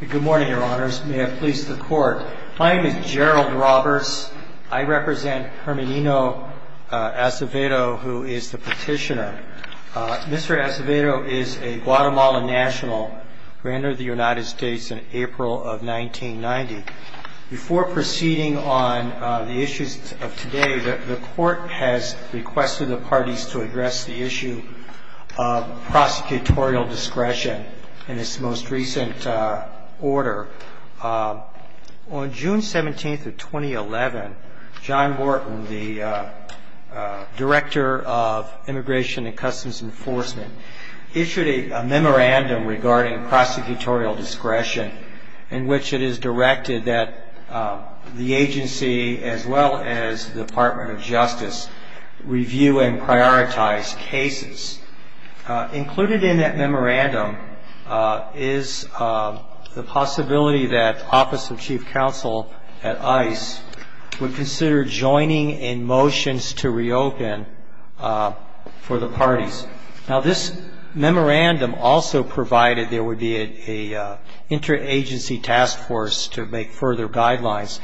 Good morning, Your Honors. May it please the Court. My name is Gerald Roberts. I represent Herminio Acevedo, who is the petitioner. Mr. Acevedo is a Guatemalan national who entered the United States in April of 1990. Before proceeding on the issues of today, the Court has requested the parties to address the issue of prosecutorial discretion in its most recent order. On June 17, 2011, John Wharton, the Director of Immigration and Customs Enforcement, issued a memorandum regarding prosecutorial discretion in which it is directed that the agency, as well as the Department of Justice, review and prioritize cases. Included in that memorandum is the possibility that the Office of Chief Counsel at ICE would consider joining in motions to reopen for the parties. Now, this memorandum also provided there would be an interagency task force to make further guidelines.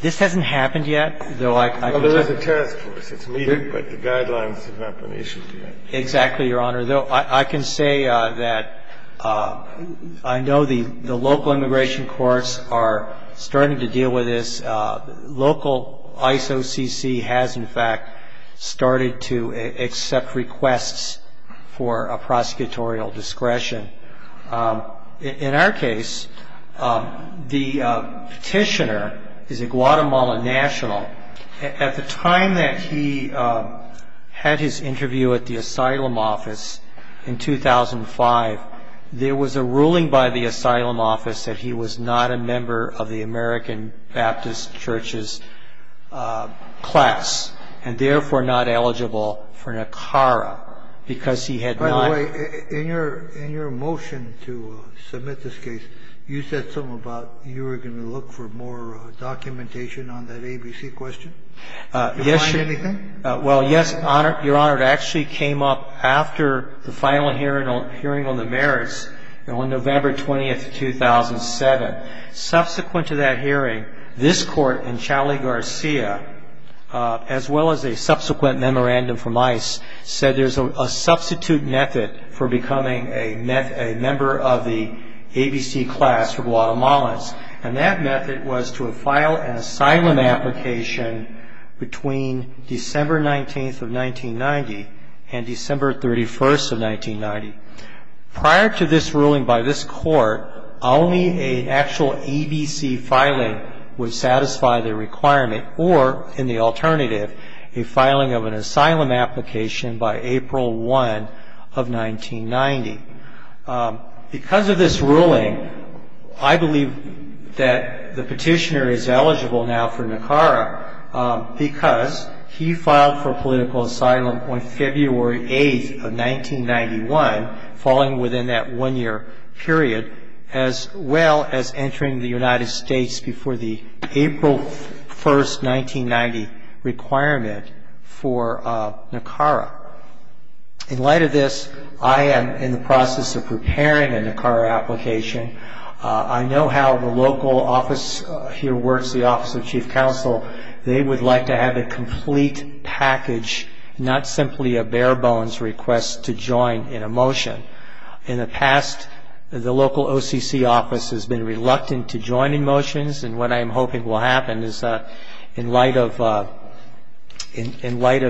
This hasn't happened yet, though I can tell you that. Well, there is a task force. It's meeting, but the guidelines have not been issued yet. Exactly, Your Honor. I can say that I know the local immigration courts are starting to deal with this. Local ISOCC has, in fact, started to accept requests for a prosecutorial discretion. In our case, the petitioner is a Guatemalan national. At the time that he had his interview at the Asylum Office in 2005, there was a ruling by the Asylum Office that he was not a member of the American Baptist Church's class and, therefore, not eligible for an ACARA because he had not By the way, in your motion to submit this case, you said something about you were going to look for more documentation on that ABC question. Yes, Your Honor. Anything? Well, yes, Your Honor. It actually came up after the final hearing on the merits on November 20, 2007. Subsequent to that hearing, this court in Chali Garcia, as well as a subsequent memorandum from ICE, said there's a substitute method for becoming a member of the ABC class of Guatemalans, and that method was to file an asylum application between December 19, 1990 and December 31, 1990. Prior to this ruling by this court, only an actual ABC filing would satisfy the requirement or, in the alternative, a filing of an asylum application by April 1 of 1990. Because of this ruling, I believe that the petitioner is eligible now for an ACARA because he filed for political asylum on February 8, 1991, falling within that one year period, as well as entering the United States before the April 1, 1990 requirement for ACARA. In light of this, I am in the process of preparing an ACARA application. I know how the local office here works, the Office of Chief Counsel. They would like to have a complete package, not simply a bare-bones request to join in a motion. In the past, the local OCC office has been reluctant to join in motions, and what I am hoping will happen is that in light of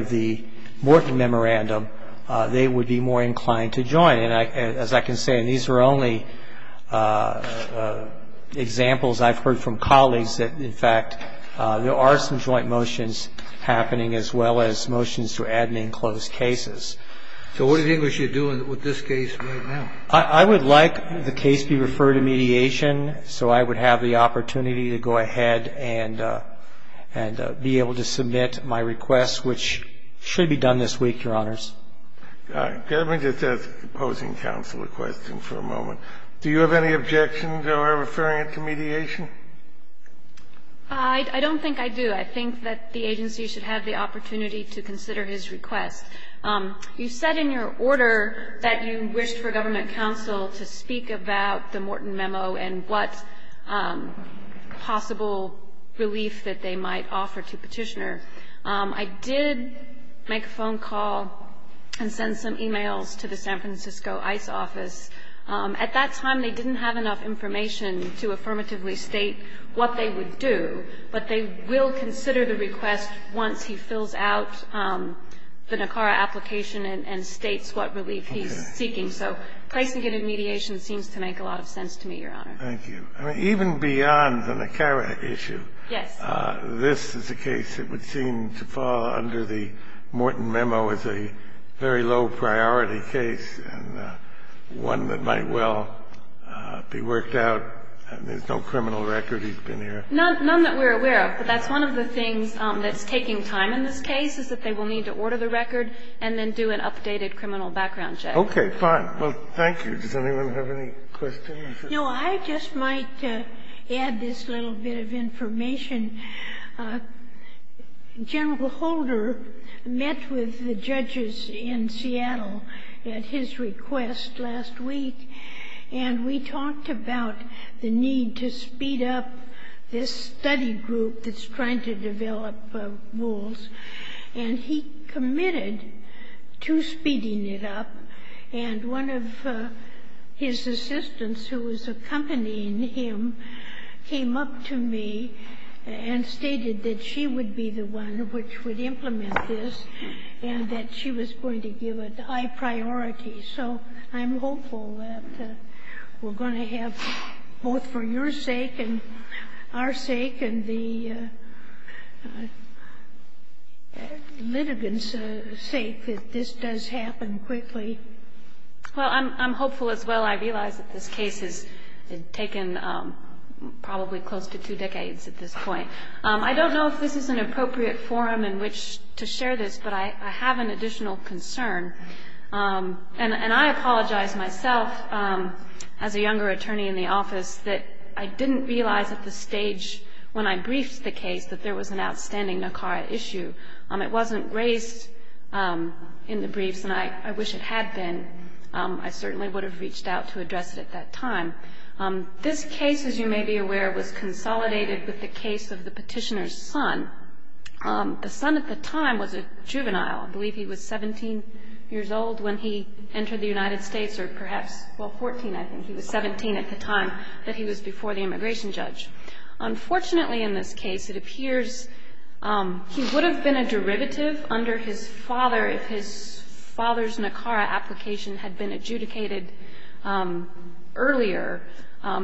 the Morton Memorandum, they would be more inclined to join. And as I can say, and these are only examples I've heard from colleagues that, in fact, there are some joint motions happening as well as motions to add and enclose cases. So what do you think we should do with this case right now? I would like the case to be referred to mediation so I would have the opportunity to go ahead and be able to submit my request, which should be done this week, Your Honors. All right. Let me just ask the opposing counsel a question for a moment. Do you have any objections to our referring it to mediation? I don't think I do. I think that the agency should have the opportunity to consider his request. You said in your order that you wished for government counsel to consider the Morton Memo and what possible relief that they might offer to Petitioner. I did make a phone call and send some e-mails to the San Francisco ICE office. At that time, they didn't have enough information to affirmatively state what they would do, but they will consider the request once he fills out the NACARA application and states what relief he's seeking. So placing it in mediation seems to make a lot of sense to me, Your Honor. Thank you. Even beyond the NACARA issue, this is a case that would seem to fall under the Morton Memo as a very low-priority case and one that might well be worked out. There's no criminal record he's been here. None that we're aware of, but that's one of the things that's taking time in this case is that they will need to order the record and then do an updated criminal background check. Okay. Fine. Well, thank you. Does anyone have any questions? No. I just might add this little bit of information. General Holder met with the judges in Seattle at his request last week, and we talked about the need to speed up this study group that's trying to develop rules, and he and one of his assistants who was accompanying him came up to me and stated that she would be the one which would implement this and that she was going to give it high priority. So I'm hopeful that we're going to have both for your sake and our sake and the litigants' sake that this does happen quickly. Well, I'm hopeful as well. I realize that this case has taken probably close to two decades at this point. I don't know if this is an appropriate forum in which to share this, but I have an additional concern. And I apologize myself, as a younger attorney in the office, that I didn't realize at the stage when I briefed the case that there was an outstanding NACARA issue. It wasn't raised in the briefs, and I wish it had been. I certainly would have reached out to address it at that time. This case, as you may be aware, was consolidated with the case of the petitioner's son. The son at the time was a juvenile. I believe he was 17 years old when he entered the United States, or perhaps, well, 14, I think. He was 17 at the time that he was before the immigration judge. Unfortunately, in this case, it appears he would have been a derivative under his father if his father's NACARA application had been adjudicated earlier.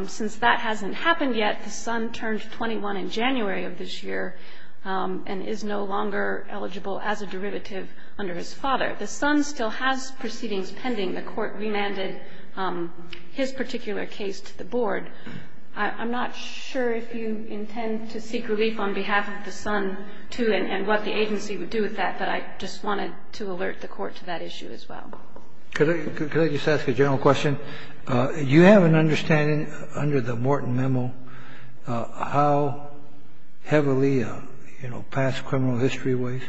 Since that hasn't happened yet, the son turned 21 in January of this year and is no longer eligible as a derivative under his father. The son still has proceedings pending. I'm not sure if you intend to seek relief on behalf of the son, too, and what the agency would do with that, but I just wanted to alert the Court to that issue as well. Could I just ask a general question? You have an understanding under the Morton Memo how heavily, you know, past criminal history weighs?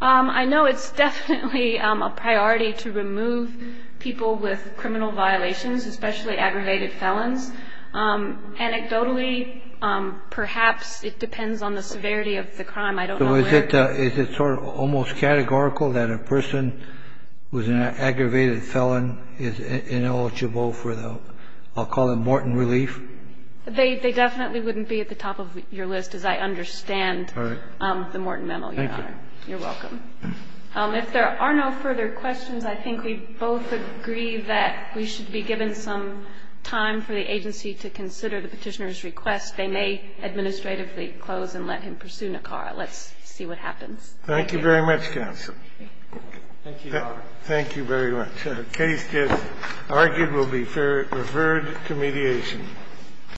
I know it's definitely a priority to remove people with criminal violations, especially aggravated felons. Anecdotally, perhaps it depends on the severity of the crime. I don't know where. So is it sort of almost categorical that a person who's an aggravated felon is ineligible for the, I'll call it Morton relief? They definitely wouldn't be at the top of your list, as I understand the Morton Memo, Your Honor. Thank you. You're welcome. If there are no further questions, I think we both agree that we should be given some time for the agency to consider the Petitioner's request. They may administratively close and let him pursue Nicarra. Let's see what happens. Thank you. Thank you very much, counsel. Thank you, Your Honor. Thank you very much. The case is argued will be referred to mediation.